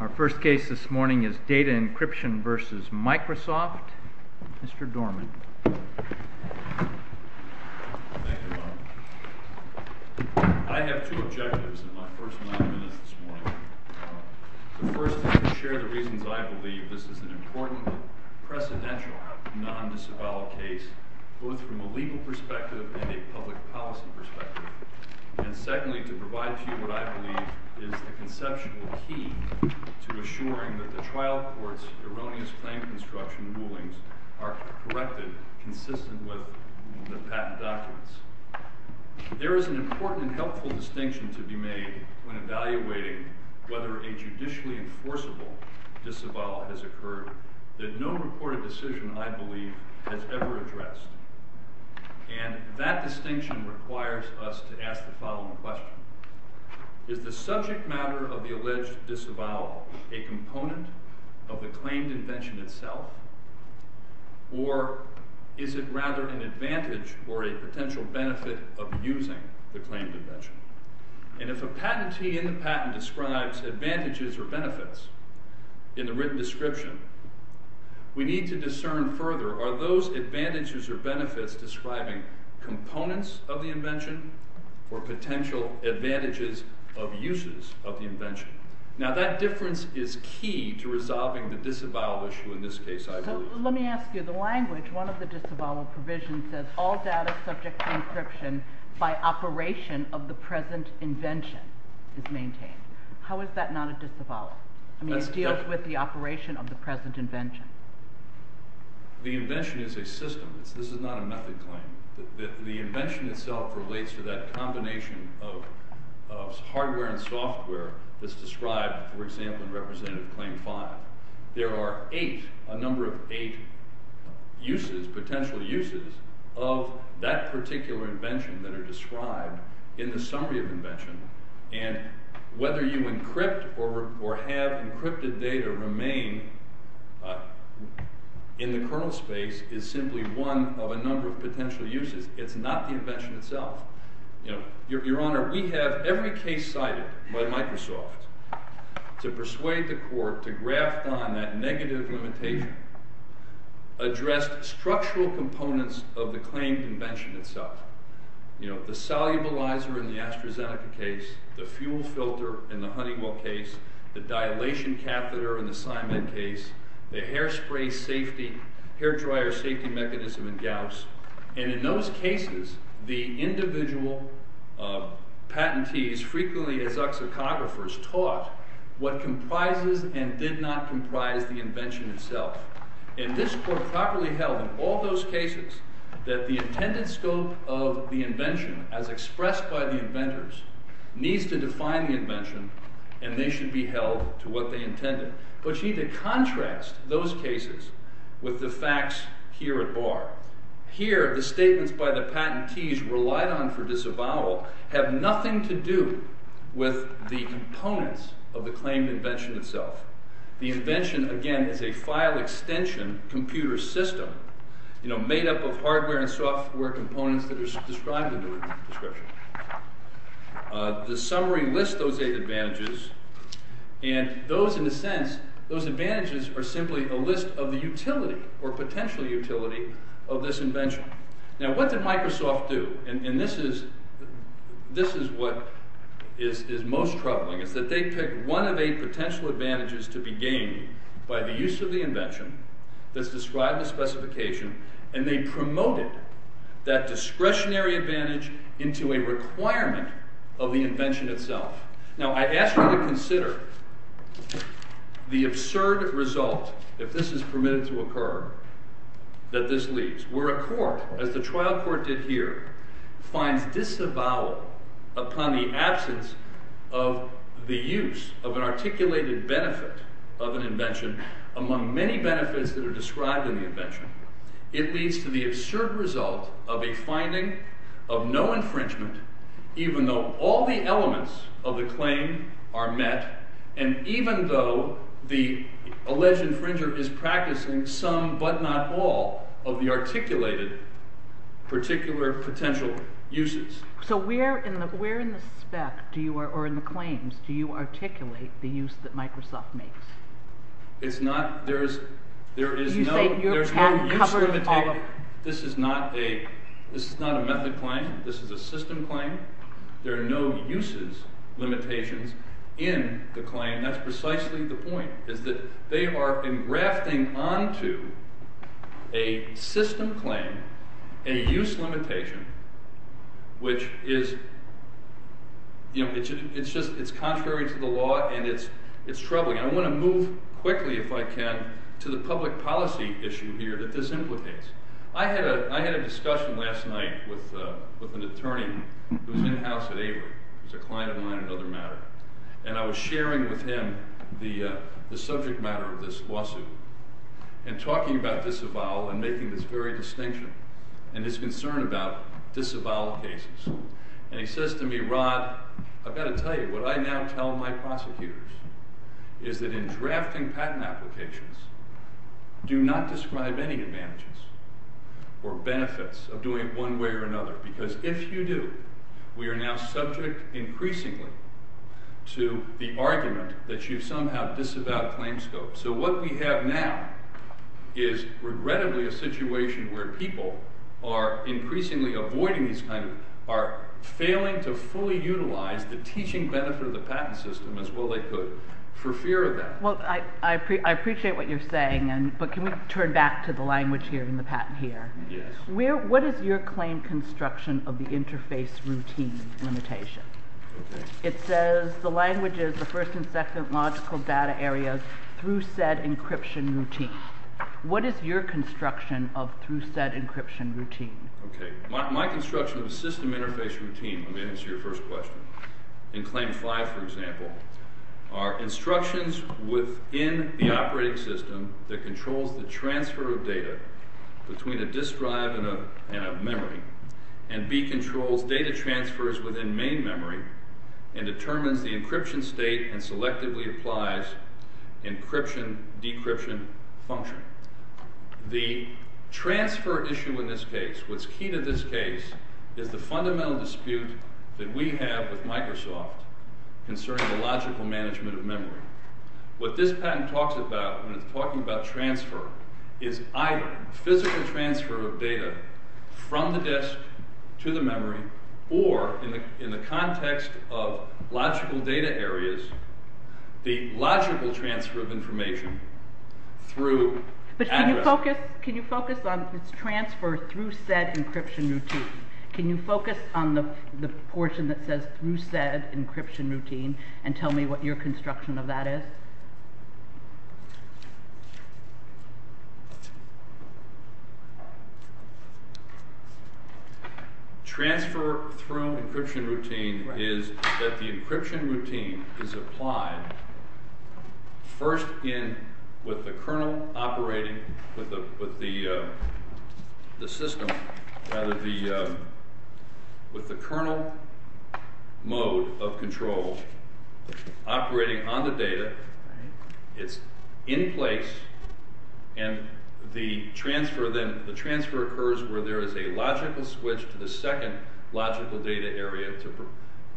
Our first case this morning is Data Encryption v. Microsoft. Mr. Dorman. Thank you, Bob. I have two objectives in my first nine minutes this morning. The first is to share the reasons I believe this is an important, precedential non-disavowal case, both from a legal perspective and a public policy perspective. And secondly, to provide to you what I believe is the conceptual key to assuring that the trial court's erroneous claim construction rulings are corrected consistent with the patent documents. There is an important and helpful distinction to be made when evaluating whether a judicially enforceable disavowal has occurred that no reported decision, I believe, has ever addressed. And that distinction requires us to ask the following question. Is the subject matter of the alleged disavowal a component of the claimed invention itself? Or is it rather an advantage or a potential benefit of using the claimed invention? And if a patentee in the patent describes advantages or benefits in the written description, we need to discern further, are those advantages or benefits describing components of the invention or potential advantages of uses of the invention? Now that difference is key to resolving the disavowal issue in this case, I believe. So let me ask you, the language, one of the disavowal provisions says, all data subject to encryption by operation of the present invention is maintained. How is that not a disavowal? I mean, it deals with the operation of the present invention. The invention is a system. This is not a method claim. The invention itself relates to that combination of hardware and software that's described, for example, in Representative Claim 5. There are eight, a number of eight uses, potential uses of that particular invention that are described in the summary of invention. And whether you encrypt or have encrypted data remain in the kernel space is simply one of a number of potential uses. It's not the invention itself. Your Honor, we have every case cited by Microsoft to persuade the court to graft on that negative limitation addressed structural components of the claim invention itself. You know, the solubilizer in the AstraZeneca case, the fuel filter in the Honeywell case, the dilation catheter in the Simon case, the hairspray safety, hair dryer safety mechanism in Gauss. And in those cases, the individual patentees, frequently as uxicographers, taught what comprises and did not comprise the invention itself. And this court properly held in all those cases that the intended scope of the invention, as expressed by the inventors, needs to define the invention, and they should be held to what they intended. But you need to contrast those cases with the facts here at bar. Here, the statements by the patentees relied on for disavowal have nothing to do with the components of the claimed invention itself. The invention, again, is a file extension computer system made up of hardware and software components that are described in the description. The summary lists those eight advantages, and those, in a sense, those advantages are simply a list of the utility or potential utility of this invention. Now, what did Microsoft do? And this is what is most troubling, is that they picked one of eight potential advantages to be gained by the use of the invention that's described in the specification, and they promoted that discretionary advantage into a requirement of the invention itself. Now, I ask you to consider the absurd result, if this is permitted to occur, that this leaves. Where a court, as the trial court did here, finds disavowal upon the absence of the use of an articulated benefit of an invention among many benefits that are described in the invention, it leads to the absurd result of a finding of no infringement, even though all the elements of the claim are met, and even though the alleged infringer is practicing some but not all of the articulated particular potential uses. So where in the spec, or in the claims, do you articulate the use that Microsoft makes? It's not, there is no use limitation. This is not a method claim, this is a system claim. There are no uses limitations in the claim. And that's precisely the point, is that they are engrafting onto a system claim a use limitation which is, you know, it's contrary to the law and it's troubling. I want to move quickly, if I can, to the public policy issue here that this implicates. I had a discussion last night with an attorney who's in-house at Averitt. He's a client of mine at Other Matter. And I was sharing with him the subject matter of this lawsuit and talking about disavowal and making this very distinction and his concern about disavowal cases. And he says to me, Rod, I've got to tell you, what I now tell my prosecutors is that in drafting patent applications, do not describe any advantages or benefits of doing it one way or another, because if you do, we are now subject increasingly to the argument that you've somehow disavowed claim scope. So what we have now is regrettably a situation where people are increasingly avoiding these kinds of are failing to fully utilize the teaching benefit of the patent system as well they could for fear of that. Well, I appreciate what you're saying, but can we turn back to the language here and the patent here? Yes. What is your claim construction of the interface routine limitation? It says the language is the first and second logical data areas through said encryption routine. What is your construction of through said encryption routine? My construction of the system interface routine, let me answer your first question, in claim five, for example, are instructions within the operating system that controls the transfer of data between a disk drive and a memory, and B controls data transfers within main memory, and determines the encryption state and selectively applies encryption decryption function. The transfer issue in this case, what's key to this case, is the fundamental dispute that we have with Microsoft concerning the logical management of memory. What this patent talks about when it's talking about transfer is either physical transfer of data from the disk to the memory, or in the context of logical data areas, the logical transfer of information through address. But can you focus on this transfer through said encryption routine? Can you focus on the portion that says through said encryption routine and tell me what your construction of that is? Transfer through encryption routine is that the encryption routine is applied first with the kernel mode of control operating on the data. It's in place, and the transfer occurs where there is a logical switch to the second logical data area.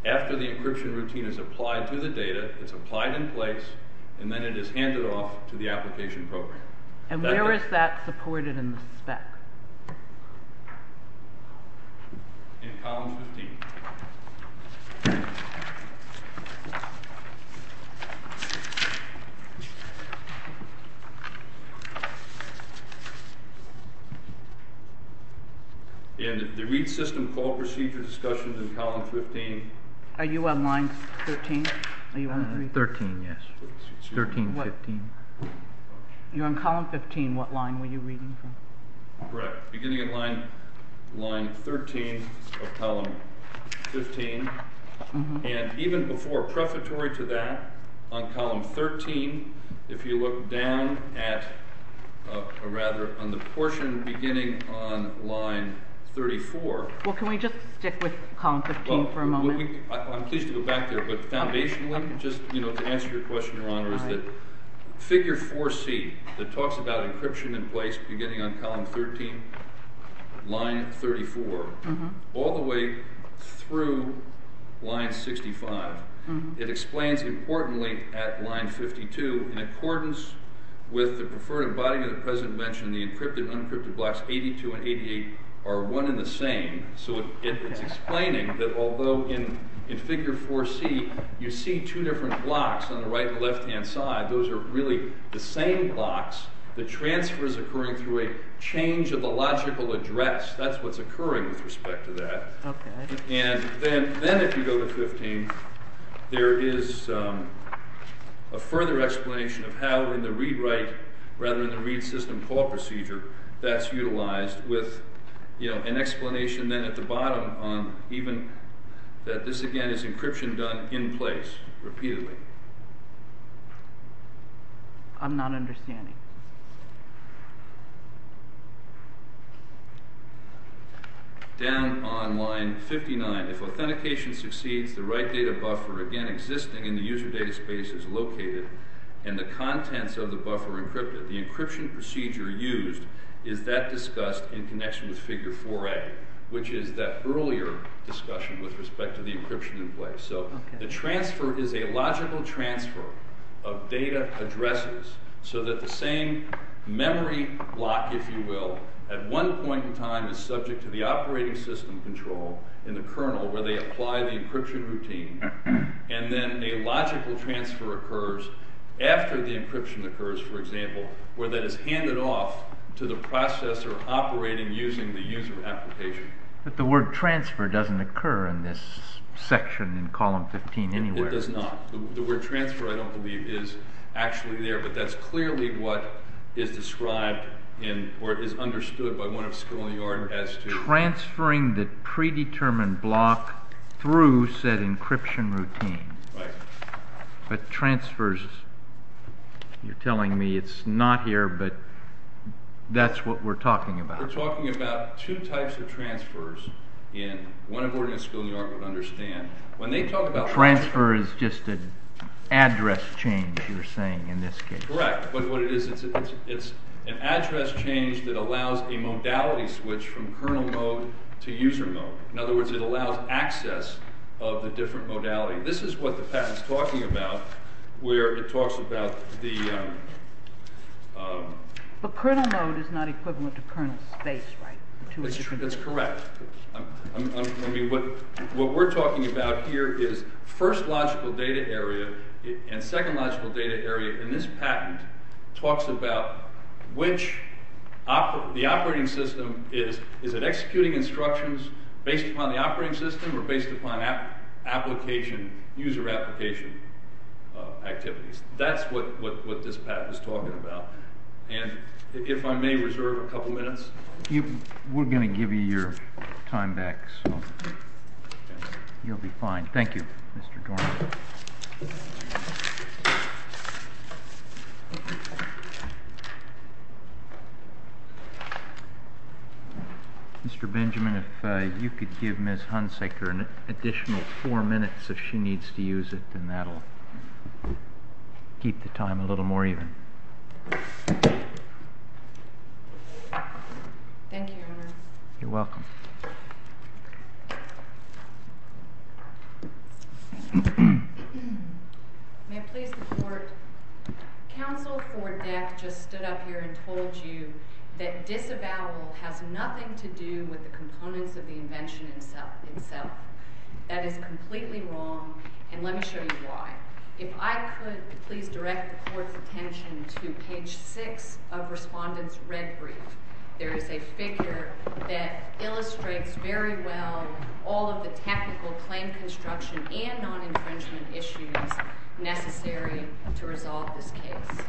After the encryption routine is applied to the data, it's applied in place, and then it is handed off to the application program. And where is that supported in the spec? In column 15. And the read system call procedure discussion in column 15. Are you on line 13? 13, yes. 13, 15. You're on column 15. What line were you reading from? Correct. Beginning at line 13 of column 15. And even before, prefatory to that, on column 13, if you look down at the portion beginning on line 34... Well, can we just stick with column 15 for a moment? I'm pleased to go back there, but foundationally, just to answer your question, Your Honor, is that figure 4C that talks about encryption in place beginning on column 13, line 34, all the way through line 65, it explains importantly at line 52, in accordance with the Preferred Embodiment that the President mentioned, the encrypted and unencrypted blocks 82 and 88 are one and the same. So it's explaining that although in figure 4C you see two different blocks on the right and left-hand side, those are really the same blocks. The transfer is occurring through a change of the logical address. That's what's occurring with respect to that. Okay. And then if you go to 15, there is a further explanation of how in the read-write, rather than the read-system-call procedure, that's utilized with an explanation then at the bottom on even that this, again, is encryption done in place repeatedly. I'm not understanding. Down on line 59, if authentication succeeds, the right data buffer, again, existing in the user data space is located and the contents of the buffer encrypted. The encryption procedure used is that discussed in connection with figure 4A, which is that earlier discussion with respect to the encryption in place. So the transfer is a logical transfer of data addresses so that the same memory block, if you will, at one point in time is subject to the operating system control in the kernel where they apply the encryption routine. And then a logical transfer occurs after the encryption occurs, for example, where that is handed off to the processor operating using the user application. But the word transfer doesn't occur in this section in column 15 anywhere. It does not. The word transfer, I don't believe, is actually there, but that's clearly what is described in, or is understood by one of Skull and Yard as to... Transferring the predetermined block through said encryption routine. Right. But transfers, you're telling me it's not here, but that's what we're talking about. We're talking about two types of transfers, and one of Oregon and Skull and Yard would understand. When they talk about... Transfer is just an address change, you're saying, in this case. Correct. But what it is, it's an address change that allows a modality switch from kernel mode to user mode. In other words, it allows access of the different modality. This is what the patent's talking about, where it talks about the... But kernel mode is not equivalent to kernel space, right? That's correct. I mean, what we're talking about here is first logical data area and second logical data area, and this patent talks about which... The operating system is it executing instructions based upon the operating system or based upon application, user application activities. That's what this patent is talking about. And if I may reserve a couple minutes... We're going to give you your time back, so you'll be fine. Thank you, Mr. Dorn. Thank you. Mr. Benjamin, if you could give Ms. Hunsaker an additional four minutes if she needs to use it, then that will keep the time a little more even. Thank you, Your Honor. You're welcome. May it please the Court? Counsel for Deck just stood up here and told you that disavowal has nothing to do with the components of the invention itself. That is completely wrong, and let me show you why. If I could please direct the Court's attention to page 6 of Respondent's Red Brief. There is a figure that illustrates very well all of the technical claim construction and non-infringement issues necessary to resolve this case.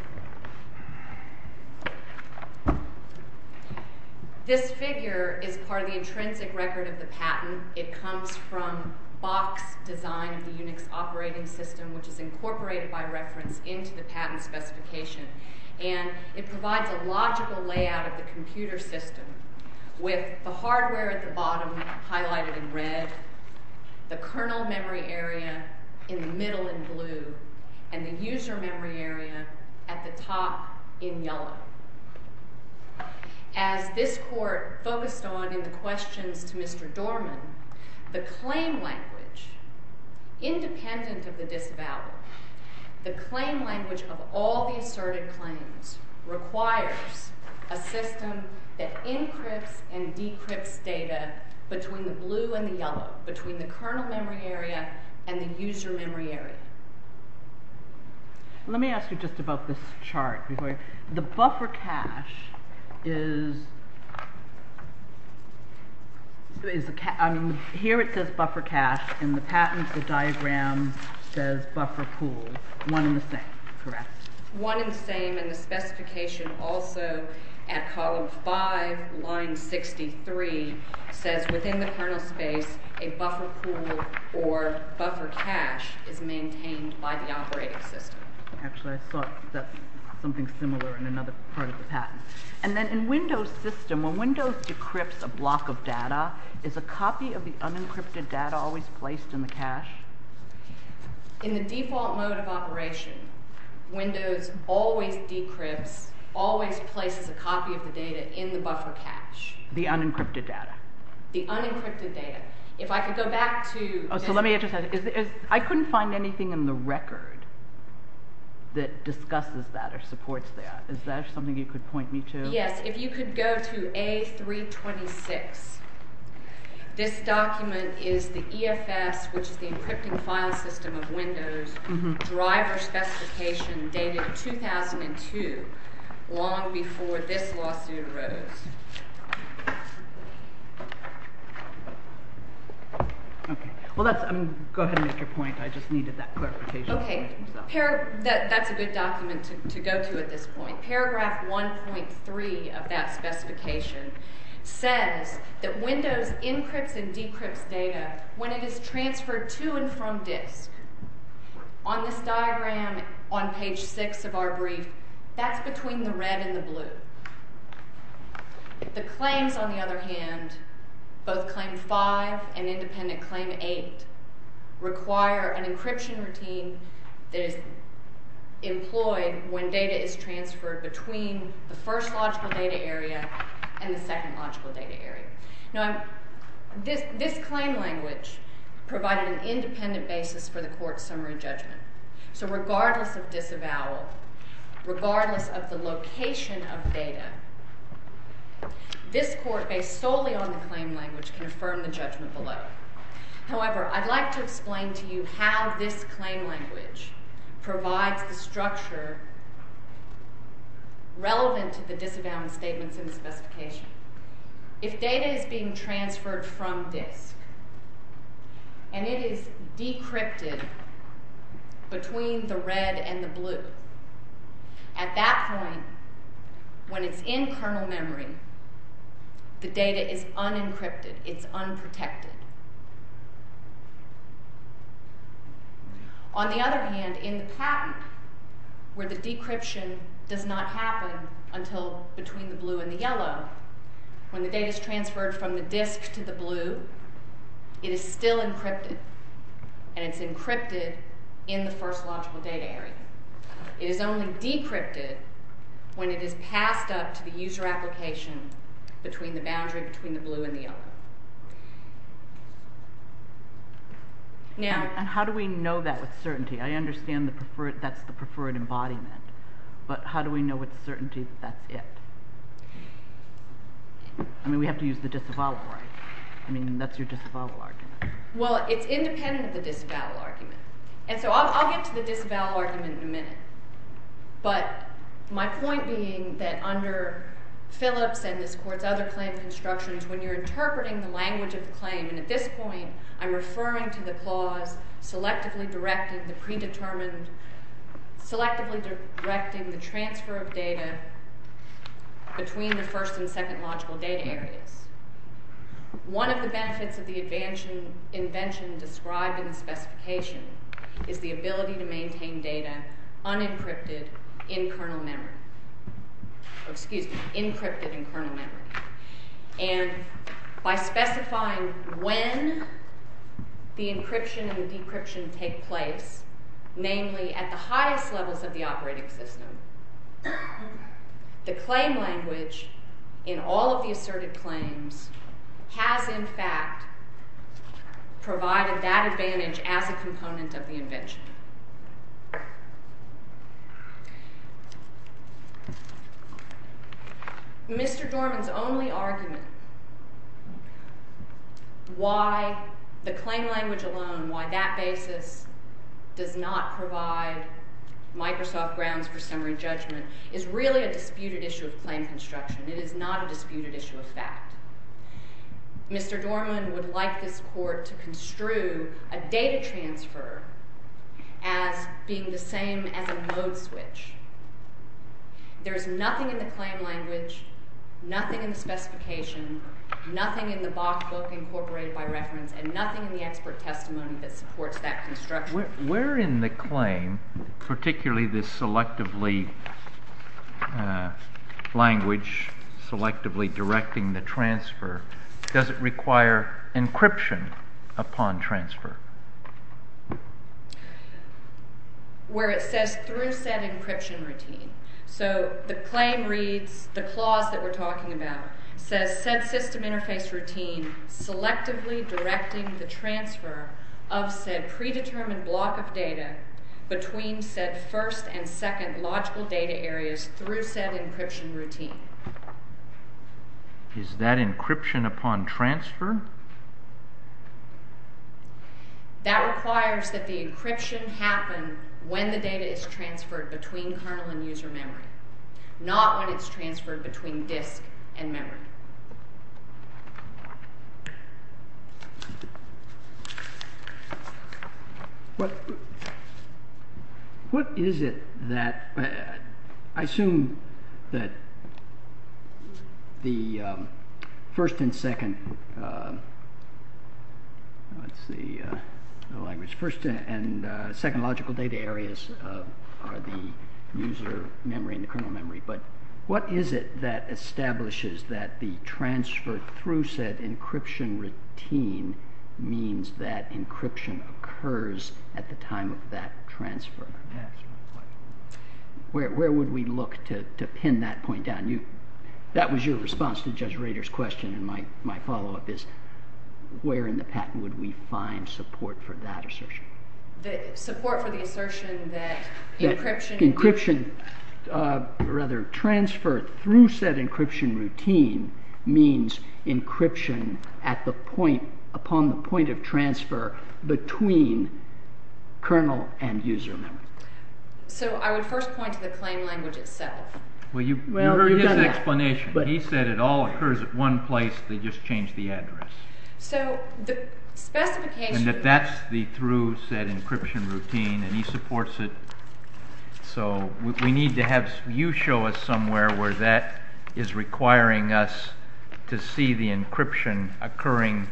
This figure is part of the intrinsic record of the patent. It comes from Bach's design of the Unix operating system, which is incorporated by reference into the patent specification. And it provides a logical layout of the computer system, with the hardware at the bottom highlighted in red, the kernel memory area in the middle in blue, and the user memory area at the top in yellow. As this Court focused on in the questions to Mr. Dorman, the claim language, independent of the disavowal, the claim language of all the asserted claims requires a system that encrypts and decrypts data between the blue and the yellow, between the kernel memory area and the user memory area. Let me ask you just about this chart. The buffer cache is a cache. Here it says buffer cache. In the patent, the diagram says buffer pool. One and the same, correct? One and the same. And the specification also at column 5, line 63, says within the kernel space a buffer pool or buffer cache is maintained by the operating system. Actually, I thought that's something similar in another part of the patent. And then in Windows' system, when Windows decrypts a block of data, is a copy of the unencrypted data always placed in the cache? In the default mode of operation, Windows always decrypts, always places a copy of the data in the buffer cache. The unencrypted data. The unencrypted data. If I could go back to... I couldn't find anything in the record that discusses that or supports that. Is that something you could point me to? Yes. If you could go to A326. This document is the EFS, which is the encrypting file system of Windows, driver specification dated 2002, long before this lawsuit arose. Go ahead and make your point. I just needed that clarification. Okay. That's a good document to go to at this point. Paragraph 1.3 of that specification says that Windows encrypts and decrypts data when it is transferred to and from disk. On this diagram, on page 6 of our brief, that's between the red and the blue. The claims, on the other hand, both claim 5 and independent claim 8, require an encryption routine that is employed when data is transferred between the first logical data area and the second logical data area. Now, this claim language provided an independent basis for the court's summary judgment. So regardless of disavowal, regardless of the location of data, this court, based solely on the claim language, can affirm the judgment below. However, I'd like to explain to you how this claim language provides the structure relevant to the disavowal statements in the specification. If data is being transferred from disk and it is decrypted between the red and the blue, at that point, when it's in kernel memory, the data is unencrypted. It's unprotected. On the other hand, in the patent, where the decryption does not happen until between the blue and the yellow, when the data is transferred from the disk to the blue, it is still encrypted, and it's encrypted in the first logical data area. It is only decrypted when it is passed up to the user application between the boundary between the blue and the yellow. And how do we know that with certainty? I understand that's the preferred embodiment, but how do we know with certainty that that's it? I mean, we have to use the disavowal argument. I mean, that's your disavowal argument. Well, it's independent of the disavowal argument, and so I'll get to the disavowal argument in a minute, but my point being that under Phillips and this Court's other claim constructions, when you're interpreting the language of the claim, and at this point, I'm referring to the clause selectively directing the transfer of data between the first and second logical data areas. One of the benefits of the invention described in the specification is the ability to maintain data unencrypted in kernel memory. Excuse me, encrypted in kernel memory. And by specifying when the encryption and decryption take place, namely at the highest levels of the operating system, the claim language in all of the asserted claims has, in fact, provided that advantage as a component of the invention. Mr. Dorman's only argument why the claim language alone, why that basis does not provide Microsoft grounds for summary judgment is really a disputed issue of claim construction. It is not a disputed issue of fact. Mr. Dorman would like this Court to construe a data transfer as being the same as a mode switch. There is nothing in the claim language, nothing in the specification, nothing in the Bach book incorporated by reference, and nothing in the expert testimony that supports that construction. Where in the claim, particularly this selectively language, selectively directing the transfer, does it require encryption upon transfer? Where it says through said encryption routine. So the claim reads, the clause that we're talking about, says said system interface routine selectively directing the transfer of said predetermined block of data between said first and second logical data areas through said encryption routine. Is that encryption upon transfer? That requires that the encryption happen when the data is transferred between kernel and user memory, not when it's transferred between disk and memory. What is it that, I assume that the first and second logical data areas are the user memory and the kernel memory, but what is it that establishes that the transfer through said encryption routine means that encryption occurs at the time of that transfer? Where would we look to pin that point down? That was your response to Judge Rader's question, and my follow-up is where in the patent would we find support for that assertion? Support for the assertion that encryption... Encryption, rather, transfer through said encryption routine means encryption at the point, upon the point of transfer between kernel and user memory. So I would first point to the claim language itself. Well, you heard his explanation. He said it all occurs at one place, they just change the address. So the specification... And that that's the through said encryption routine, and he supports it. So we need to have you show us somewhere where that is requiring us to see the encryption occurring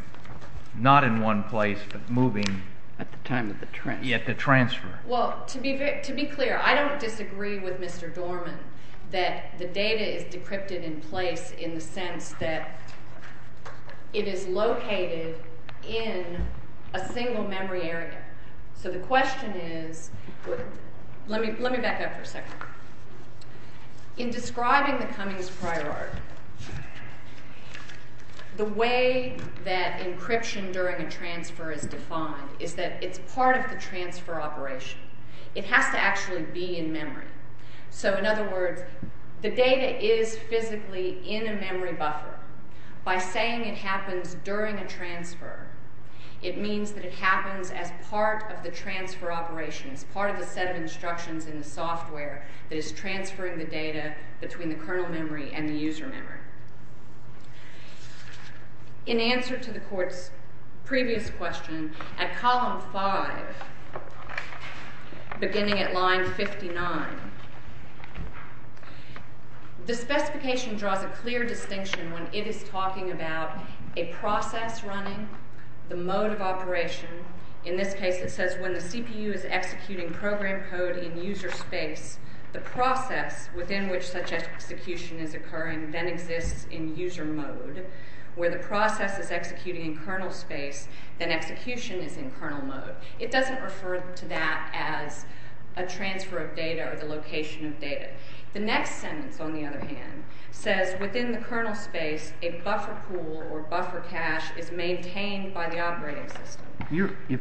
not in one place, but moving... At the time of the transfer. At the transfer. Well, to be clear, I don't disagree with Mr. Dorman. That the data is decrypted in place in the sense that it is located in a single memory area. So the question is... Let me back up for a second. In describing the Cummings Priority, the way that encryption during a transfer is defined is that it's part of the transfer operation. It has to actually be in memory. So in other words, the data is physically in a memory buffer. By saying it happens during a transfer, it means that it happens as part of the transfer operation, as part of the set of instructions in the software that is transferring the data between the kernel memory and the user memory. In answer to the Court's previous question, at column 5, beginning at line 59, the specification draws a clear distinction when it is talking about a process running, the mode of operation. In this case, it says, when the CPU is executing program code in user space, the process within which such execution is occurring then exists in user mode. Where the process is executing in kernel space, then execution is in kernel mode. It doesn't refer to that as a transfer of data or the location of data. The next sentence, on the other hand, says within the kernel space, a buffer pool or buffer cache is maintained by the operating system.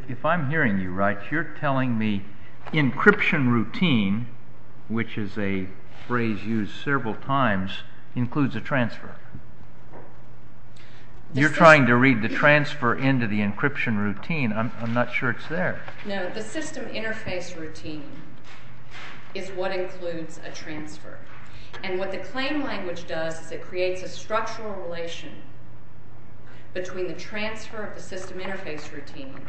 If I'm hearing you right, you're telling me encryption routine, which is a phrase used several times, includes a transfer. You're trying to read the transfer into the encryption routine. I'm not sure it's there. No, the system interface routine is what includes a transfer. And what the claim language does is it creates a structural relation between the transfer of the system interface routine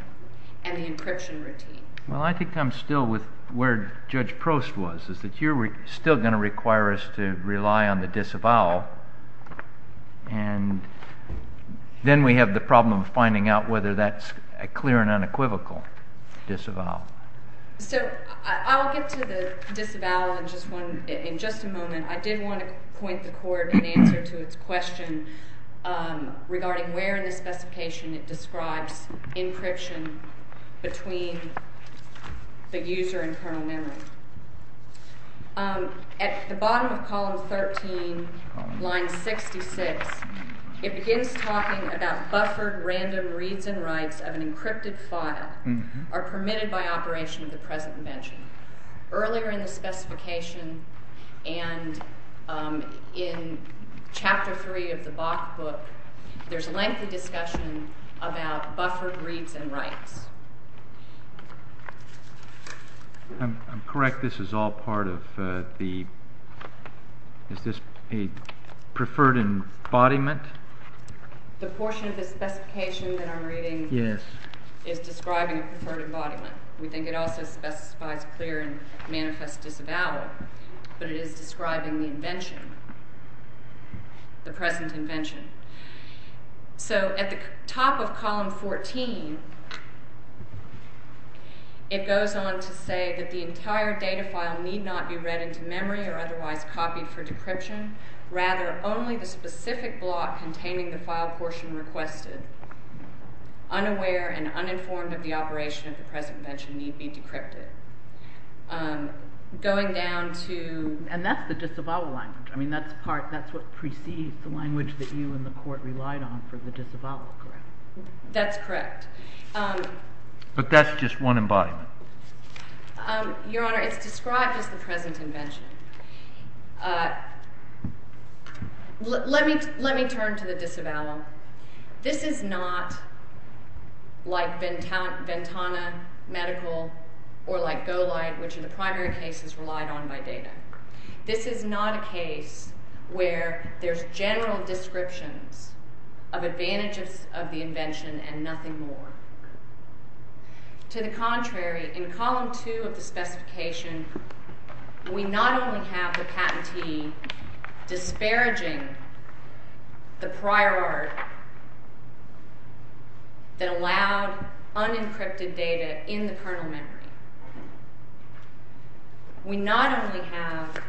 and the encryption routine. Well, I think I'm still with where Judge Prost was, is that you're still going to require us to rely on the disavowal and then we have the problem of finding out whether that's a clear and unequivocal disavowal. So I'll get to the disavowal in just a moment. I did want to point the court in answer to its question regarding where in the specification it describes encryption between the user and kernel memory. At the bottom of column 13, line 66, it begins talking about buffered random reads and writes of an encrypted file are permitted by operation of the present invention. Earlier in the specification and in chapter 3 of the Bach book, there's lengthy discussion about buffered reads and writes. I'm correct, this is all part of the... Is this a preferred embodiment? The portion of the specification that I'm reading is describing a preferred embodiment. We think it also specifies clear and manifest disavowal, but it is describing the invention, the present invention. So at the top of column 14, it goes on to say that the entire data file need not be read into memory or otherwise copied for decryption. Rather, only the specific block containing the file portion requested, unaware and uninformed of the operation of the present invention, need be decrypted. Going down to... And that's the disavowal language. That's what precedes the language that you and the court relied on for the disavowal, correct? That's correct. But that's just one embodiment. Your Honour, it's described as the present invention. Let me turn to the disavowal. This is not like Ventana Medical or like Golight, which are the primary cases relied on by data. This is not a case where there's general descriptions of advantages of the invention and nothing more. To the contrary, in column 2 of the specification, we not only have the patentee disparaging the prior art that allowed unencrypted data in the kernel memory, we not only have,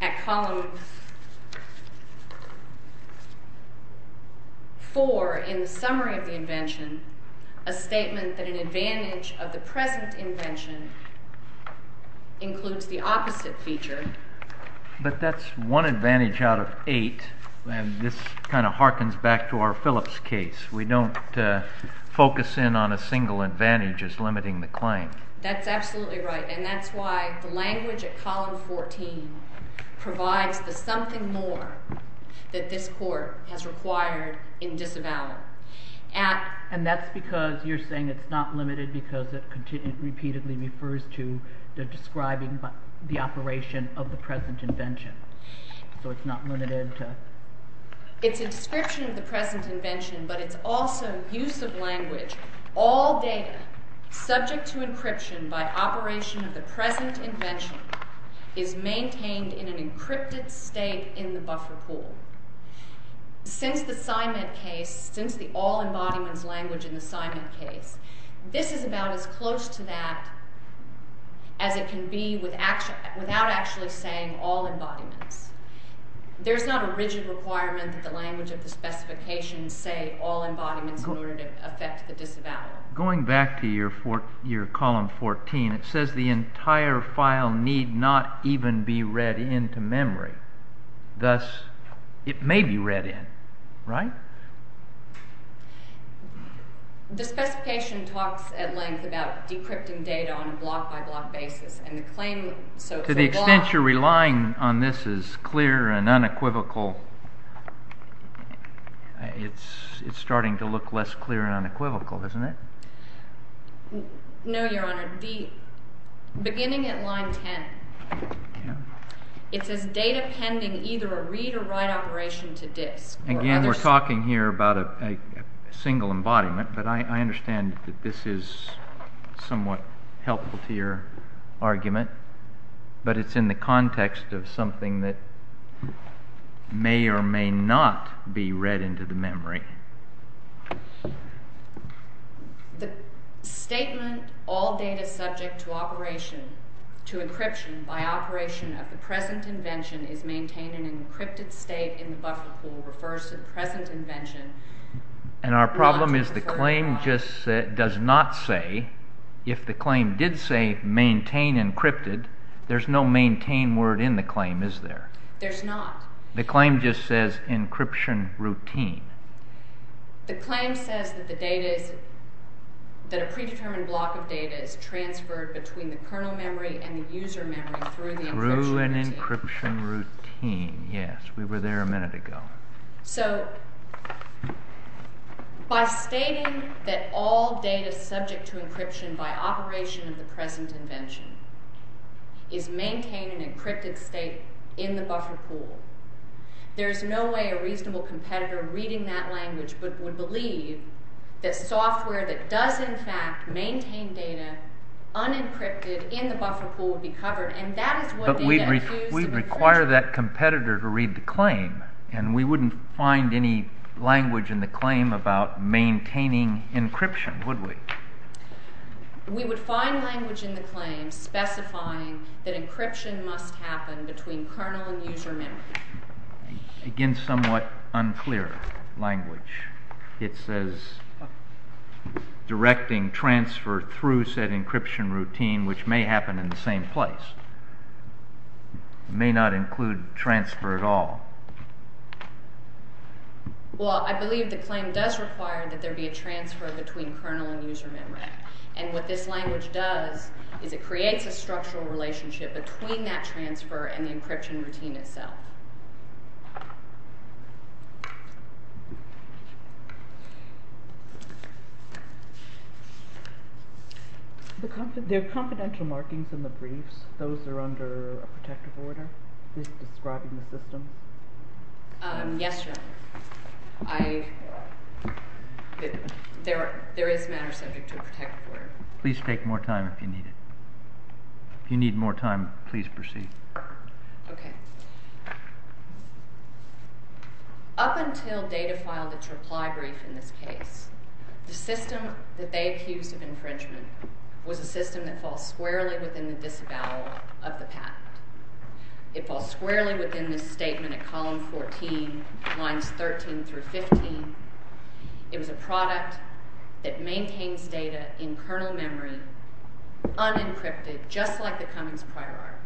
at column 4 in the summary of the invention, a statement that an advantage of the present invention includes the opposite feature... But that's one advantage out of eight, and this kind of harkens back to our Phillips case. We don't focus in on a single advantage as limiting the claim. That's absolutely right, and that's why the language at column 14 provides the something more that this court has required in disavowing. And that's because you're saying it's not limited because it repeatedly refers to describing the operation of the present invention. So it's not limited to... It's a description of the present invention, but it's also use of language. All data subject to encryption by operation of the present invention is maintained in an encrypted state in the buffer pool. Since the SIMED case, since the all embodiments language in the SIMED case, this is about as close to that as it can be without actually saying all embodiments. There's not a rigid requirement that the language of the specification say all embodiments in order to affect the disavowal. Going back to your column 14, it says the entire file need not even be read into memory. Thus, it may be read in, right? The specification talks at length about decrypting data on a block-by-block basis, and the claim... The extent you're relying on this is clear and unequivocal. It's starting to look less clear and unequivocal, isn't it? No, Your Honour. Beginning at line 10, it says data pending either a read or write operation to disk. Again, we're talking here about a single embodiment, but I understand that this is somewhat helpful to your argument, but it's in the context of something that may or may not be read into the memory. The statement all data subject to encryption by operation of the present invention is maintained in an encrypted state in the buffer pool refers to the present invention... And our problem is the claim does not say, if the claim did say maintain encrypted, there's no maintain word in the claim, is there? There's not. The claim just says encryption routine. The claim says that a predetermined block of data is transferred between the kernel memory and the user memory through an encryption routine. Yes, we were there a minute ago. So, by stating that all data subject to encryption by operation of the present invention is maintained in an encrypted state in the buffer pool, there's no way a reasonable competitor reading that language would believe that software that does in fact maintain data unencrypted in the buffer pool would be covered. But we'd require that competitor to read the claim, and we wouldn't find any language in the claim about maintaining encryption, would we? We would find language in the claim specifying that encryption must happen between kernel and user memory. Again, somewhat unclear language. It says directing transfer through said encryption routine, which may happen in the same place. It may not include transfer at all. Well, I believe the claim does require that there be a transfer between kernel and user memory. And what this language does is it creates a structural relationship between that transfer and the encryption routine itself. There are confidential markings in the briefs. Those are under a protective order describing the system. Yes, Your Honor. There is matter subject to a protective order. Please take more time if you need it. If you need more time, please proceed. Okay. Up until Data filed its reply brief in this case, the system that they accused of infringement was a system that falls squarely within the disavowal of the patent. It falls squarely within this statement at column 14, lines 13 through 15. It was a product that maintains data in kernel memory, unencrypted, just like the Cummings prior art.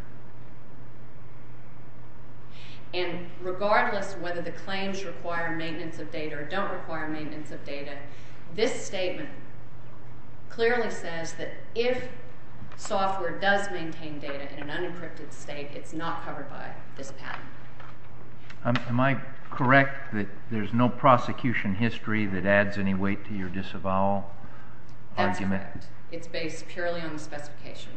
And regardless whether the claims require maintenance of data or don't require maintenance of data, this statement clearly says that if software does maintain data in an unencrypted state, it's not covered by this patent. Am I correct that there's no prosecution history that adds any weight to your disavowal argument? That's correct. It's based purely on the specification.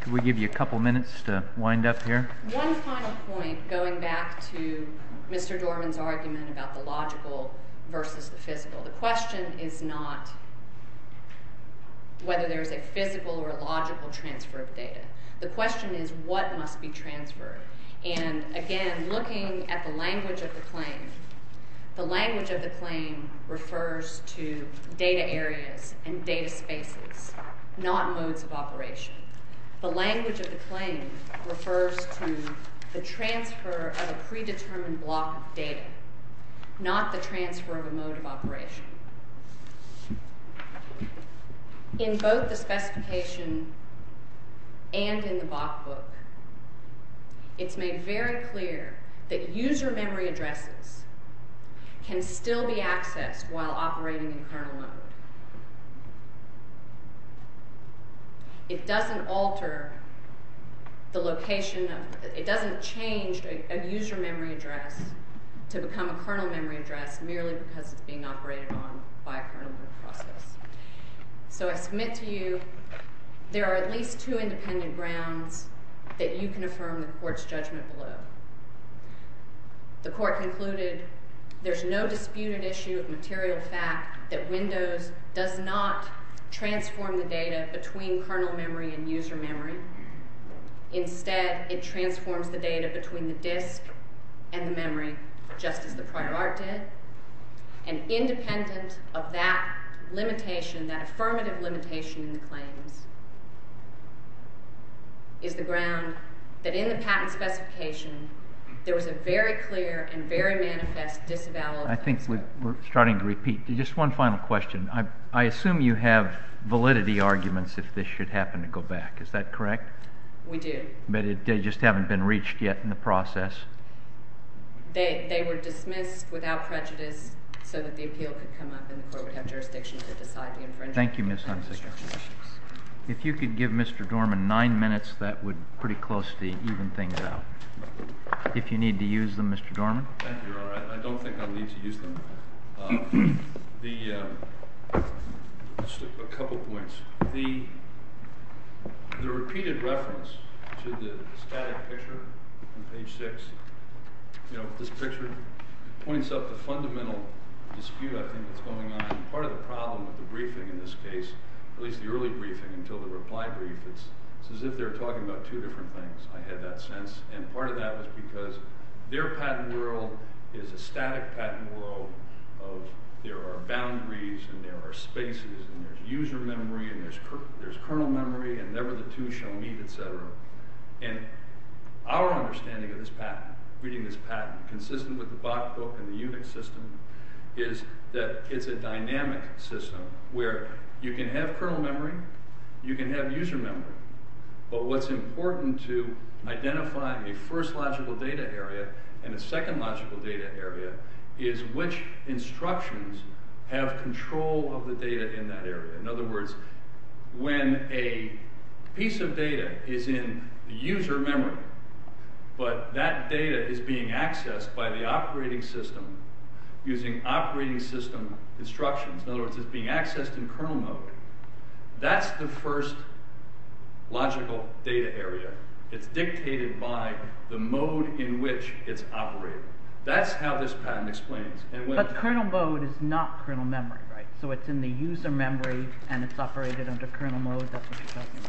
Can we give you a couple minutes to wind up here? One final point, going back to Mr. Dorman's argument about the logical versus the physical. The question is not whether there's a physical or a logical transfer of data. The question is what must be transferred. And again, looking at the language of the claim, the language of the claim refers to data areas and data spaces, not modes of operation. The language of the claim refers to the transfer of a predetermined block of data, not the transfer of a mode of operation. In both the specification and in the Bach book, it's made very clear that user memory addresses can still be accessed while operating in kernel mode. It doesn't alter the location of... It doesn't change a user memory address to become a kernel memory address merely because it's being operated on by a kernel process. So I submit to you there are at least two independent grounds that you can affirm the court's judgment below. The court concluded there's no disputed issue of material fact that Windows does not transform the data between kernel memory and user memory. Instead, it transforms the data between the disk and the memory, just as the prior art did. And independent of that limitation, that affirmative limitation in the claims, is the ground that in the patent specification there was a very clear and very manifest disavowal of... I think we're starting to repeat. Just one final question. I assume you have validity arguments if this should happen to go back. Is that correct? We do. But they just haven't been reached yet in the process? They were dismissed without prejudice so that the appeal could come up and the court would have jurisdiction to decide the infringement. Thank you, Ms. Hunziker. If you could give Mr. Dorman nine minutes, that would pretty close to even things out. If you need to use them, Mr. Dorman. Thank you, Your Honor. I don't think I'll need to use them. Just a couple points. The repeated reference to the static picture on page six, this picture points up the fundamental dispute I think that's going on. Part of the problem with the briefing in this case, at least the early briefing until the reply brief, it's as if they're talking about two different things. I had that sense. And part of that was because their patent world is a static patent world. There are boundaries and there are spaces and there's user memory and there's kernel memory and never the two shall meet, etc. And our understanding of this patent, reading this patent consistent with the Bach book and the UNIX system, is that it's a dynamic system where you can have kernel memory, you can have user memory, but what's important to identifying a first logical data area and a second logical data area is which instructions have control of the data in that area. In other words, when a piece of data is in user memory, but that data is being accessed by the operating system using operating system instructions, in other words, it's being accessed in kernel mode, that's the first logical data area. It's dictated by the mode in which it's operated. That's how this patent explains. But kernel mode is not kernel memory, right? So it's in the user memory and it's operated under kernel mode, that's what you're talking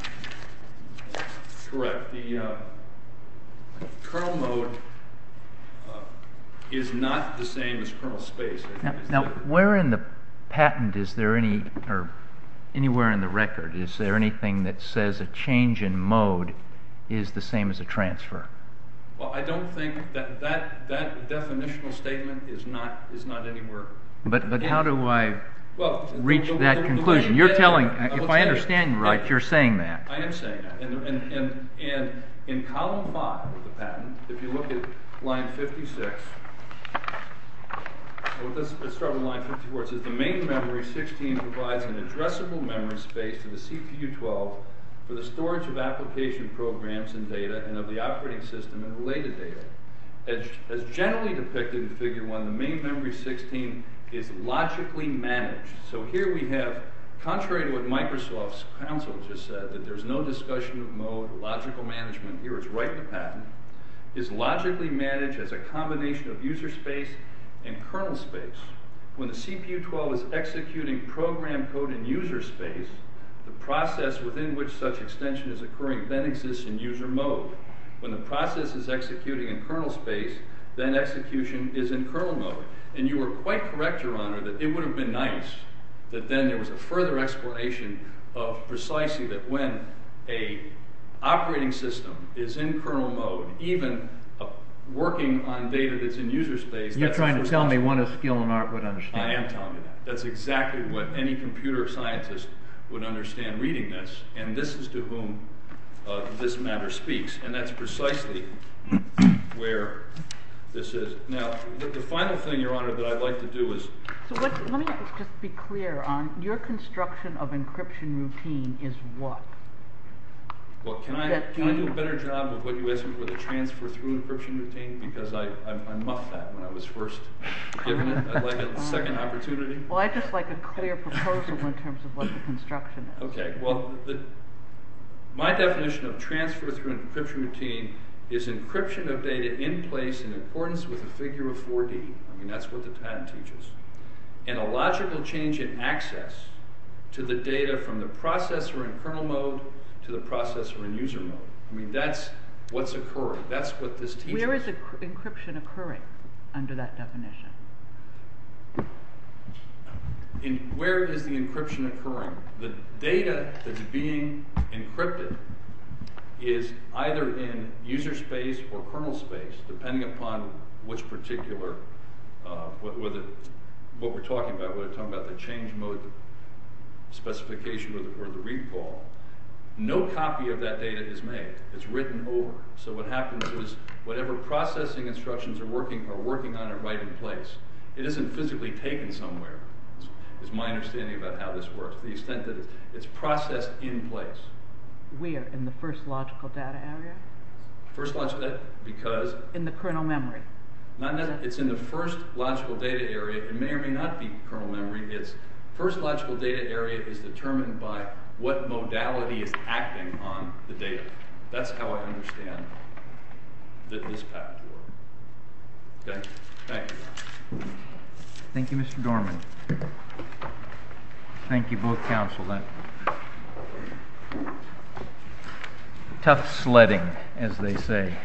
about. Correct. The kernel mode is not the same as kernel space. Now, where in the patent is there any, or anywhere in the record, is there anything that says a change in mode is the same as a transfer? Well, I don't think that that definitional statement is not anywhere. But how do I reach that conclusion? You're telling, if I understand you right, you're saying that. I am saying that. And in column five of the patent, if you look at line 56, let's start with line 54, it says the main memory 16 provides an addressable memory space to the CPU-12 for the storage of application programs and data and of the operating system and related data. As generally depicted in figure one, the main memory 16 is logically managed. So here we have, contrary to what Microsoft's counsel just said, that there's no discussion of mode, logical management, here it's right in the patent, is logically managed as a combination of user space and kernel space. When the CPU-12 is executing program code in user space, the process within which such extension is occurring then exists in user mode. When the process is executing in kernel space, then execution is in kernel mode. And you are quite correct, Your Honor, that it would have been nice that then there was a further explanation of precisely that when a operating system is in kernel mode, even working on data that's in user space... You're trying to tell me what a skill in art would understand. I am telling you that. That's exactly what any computer scientist would understand reading this. And this is to whom this matter speaks. And that's precisely where this is. Now, the final thing, Your Honor, that I'd like to do is... So let me just be clear on your construction of encryption routine is what? Well, can I do a better job of what you asked me for the transfer through encryption routine? Because I mucked that when I was first given it. I'd like a second opportunity. Well, I'd just like a clear proposal in terms of what the construction is. Okay, well, my definition of transfer through encryption routine is encryption of data in place in accordance with a figure of 4D. I mean, that's what the patent teaches. And a logical change in access to the data from the processor in kernel mode to the processor in user mode. I mean, that's what's occurring. That's what this teaches. Where is encryption occurring under that definition? Where is the encryption occurring? The data that's being encrypted is either in user space or kernel space, depending upon which particular... what we're talking about. We're talking about the change mode specification or the recall. No copy of that data is made. It's written over. So what happens is whatever processing instructions are working are working on it right in place. It isn't physically taken somewhere is my understanding about how this works. To the extent that it's processed in place. We are in the first logical data area? First logical data area because... In the kernel memory. It's in the first logical data area. It may or may not be kernel memory. It's first logical data area is determined by what modality is acting on the data. That's how I understand that this patent works. Okay, thank you. Thank you, Mr. Dorman. Thank you both, counsel. Tough sledding, as they say.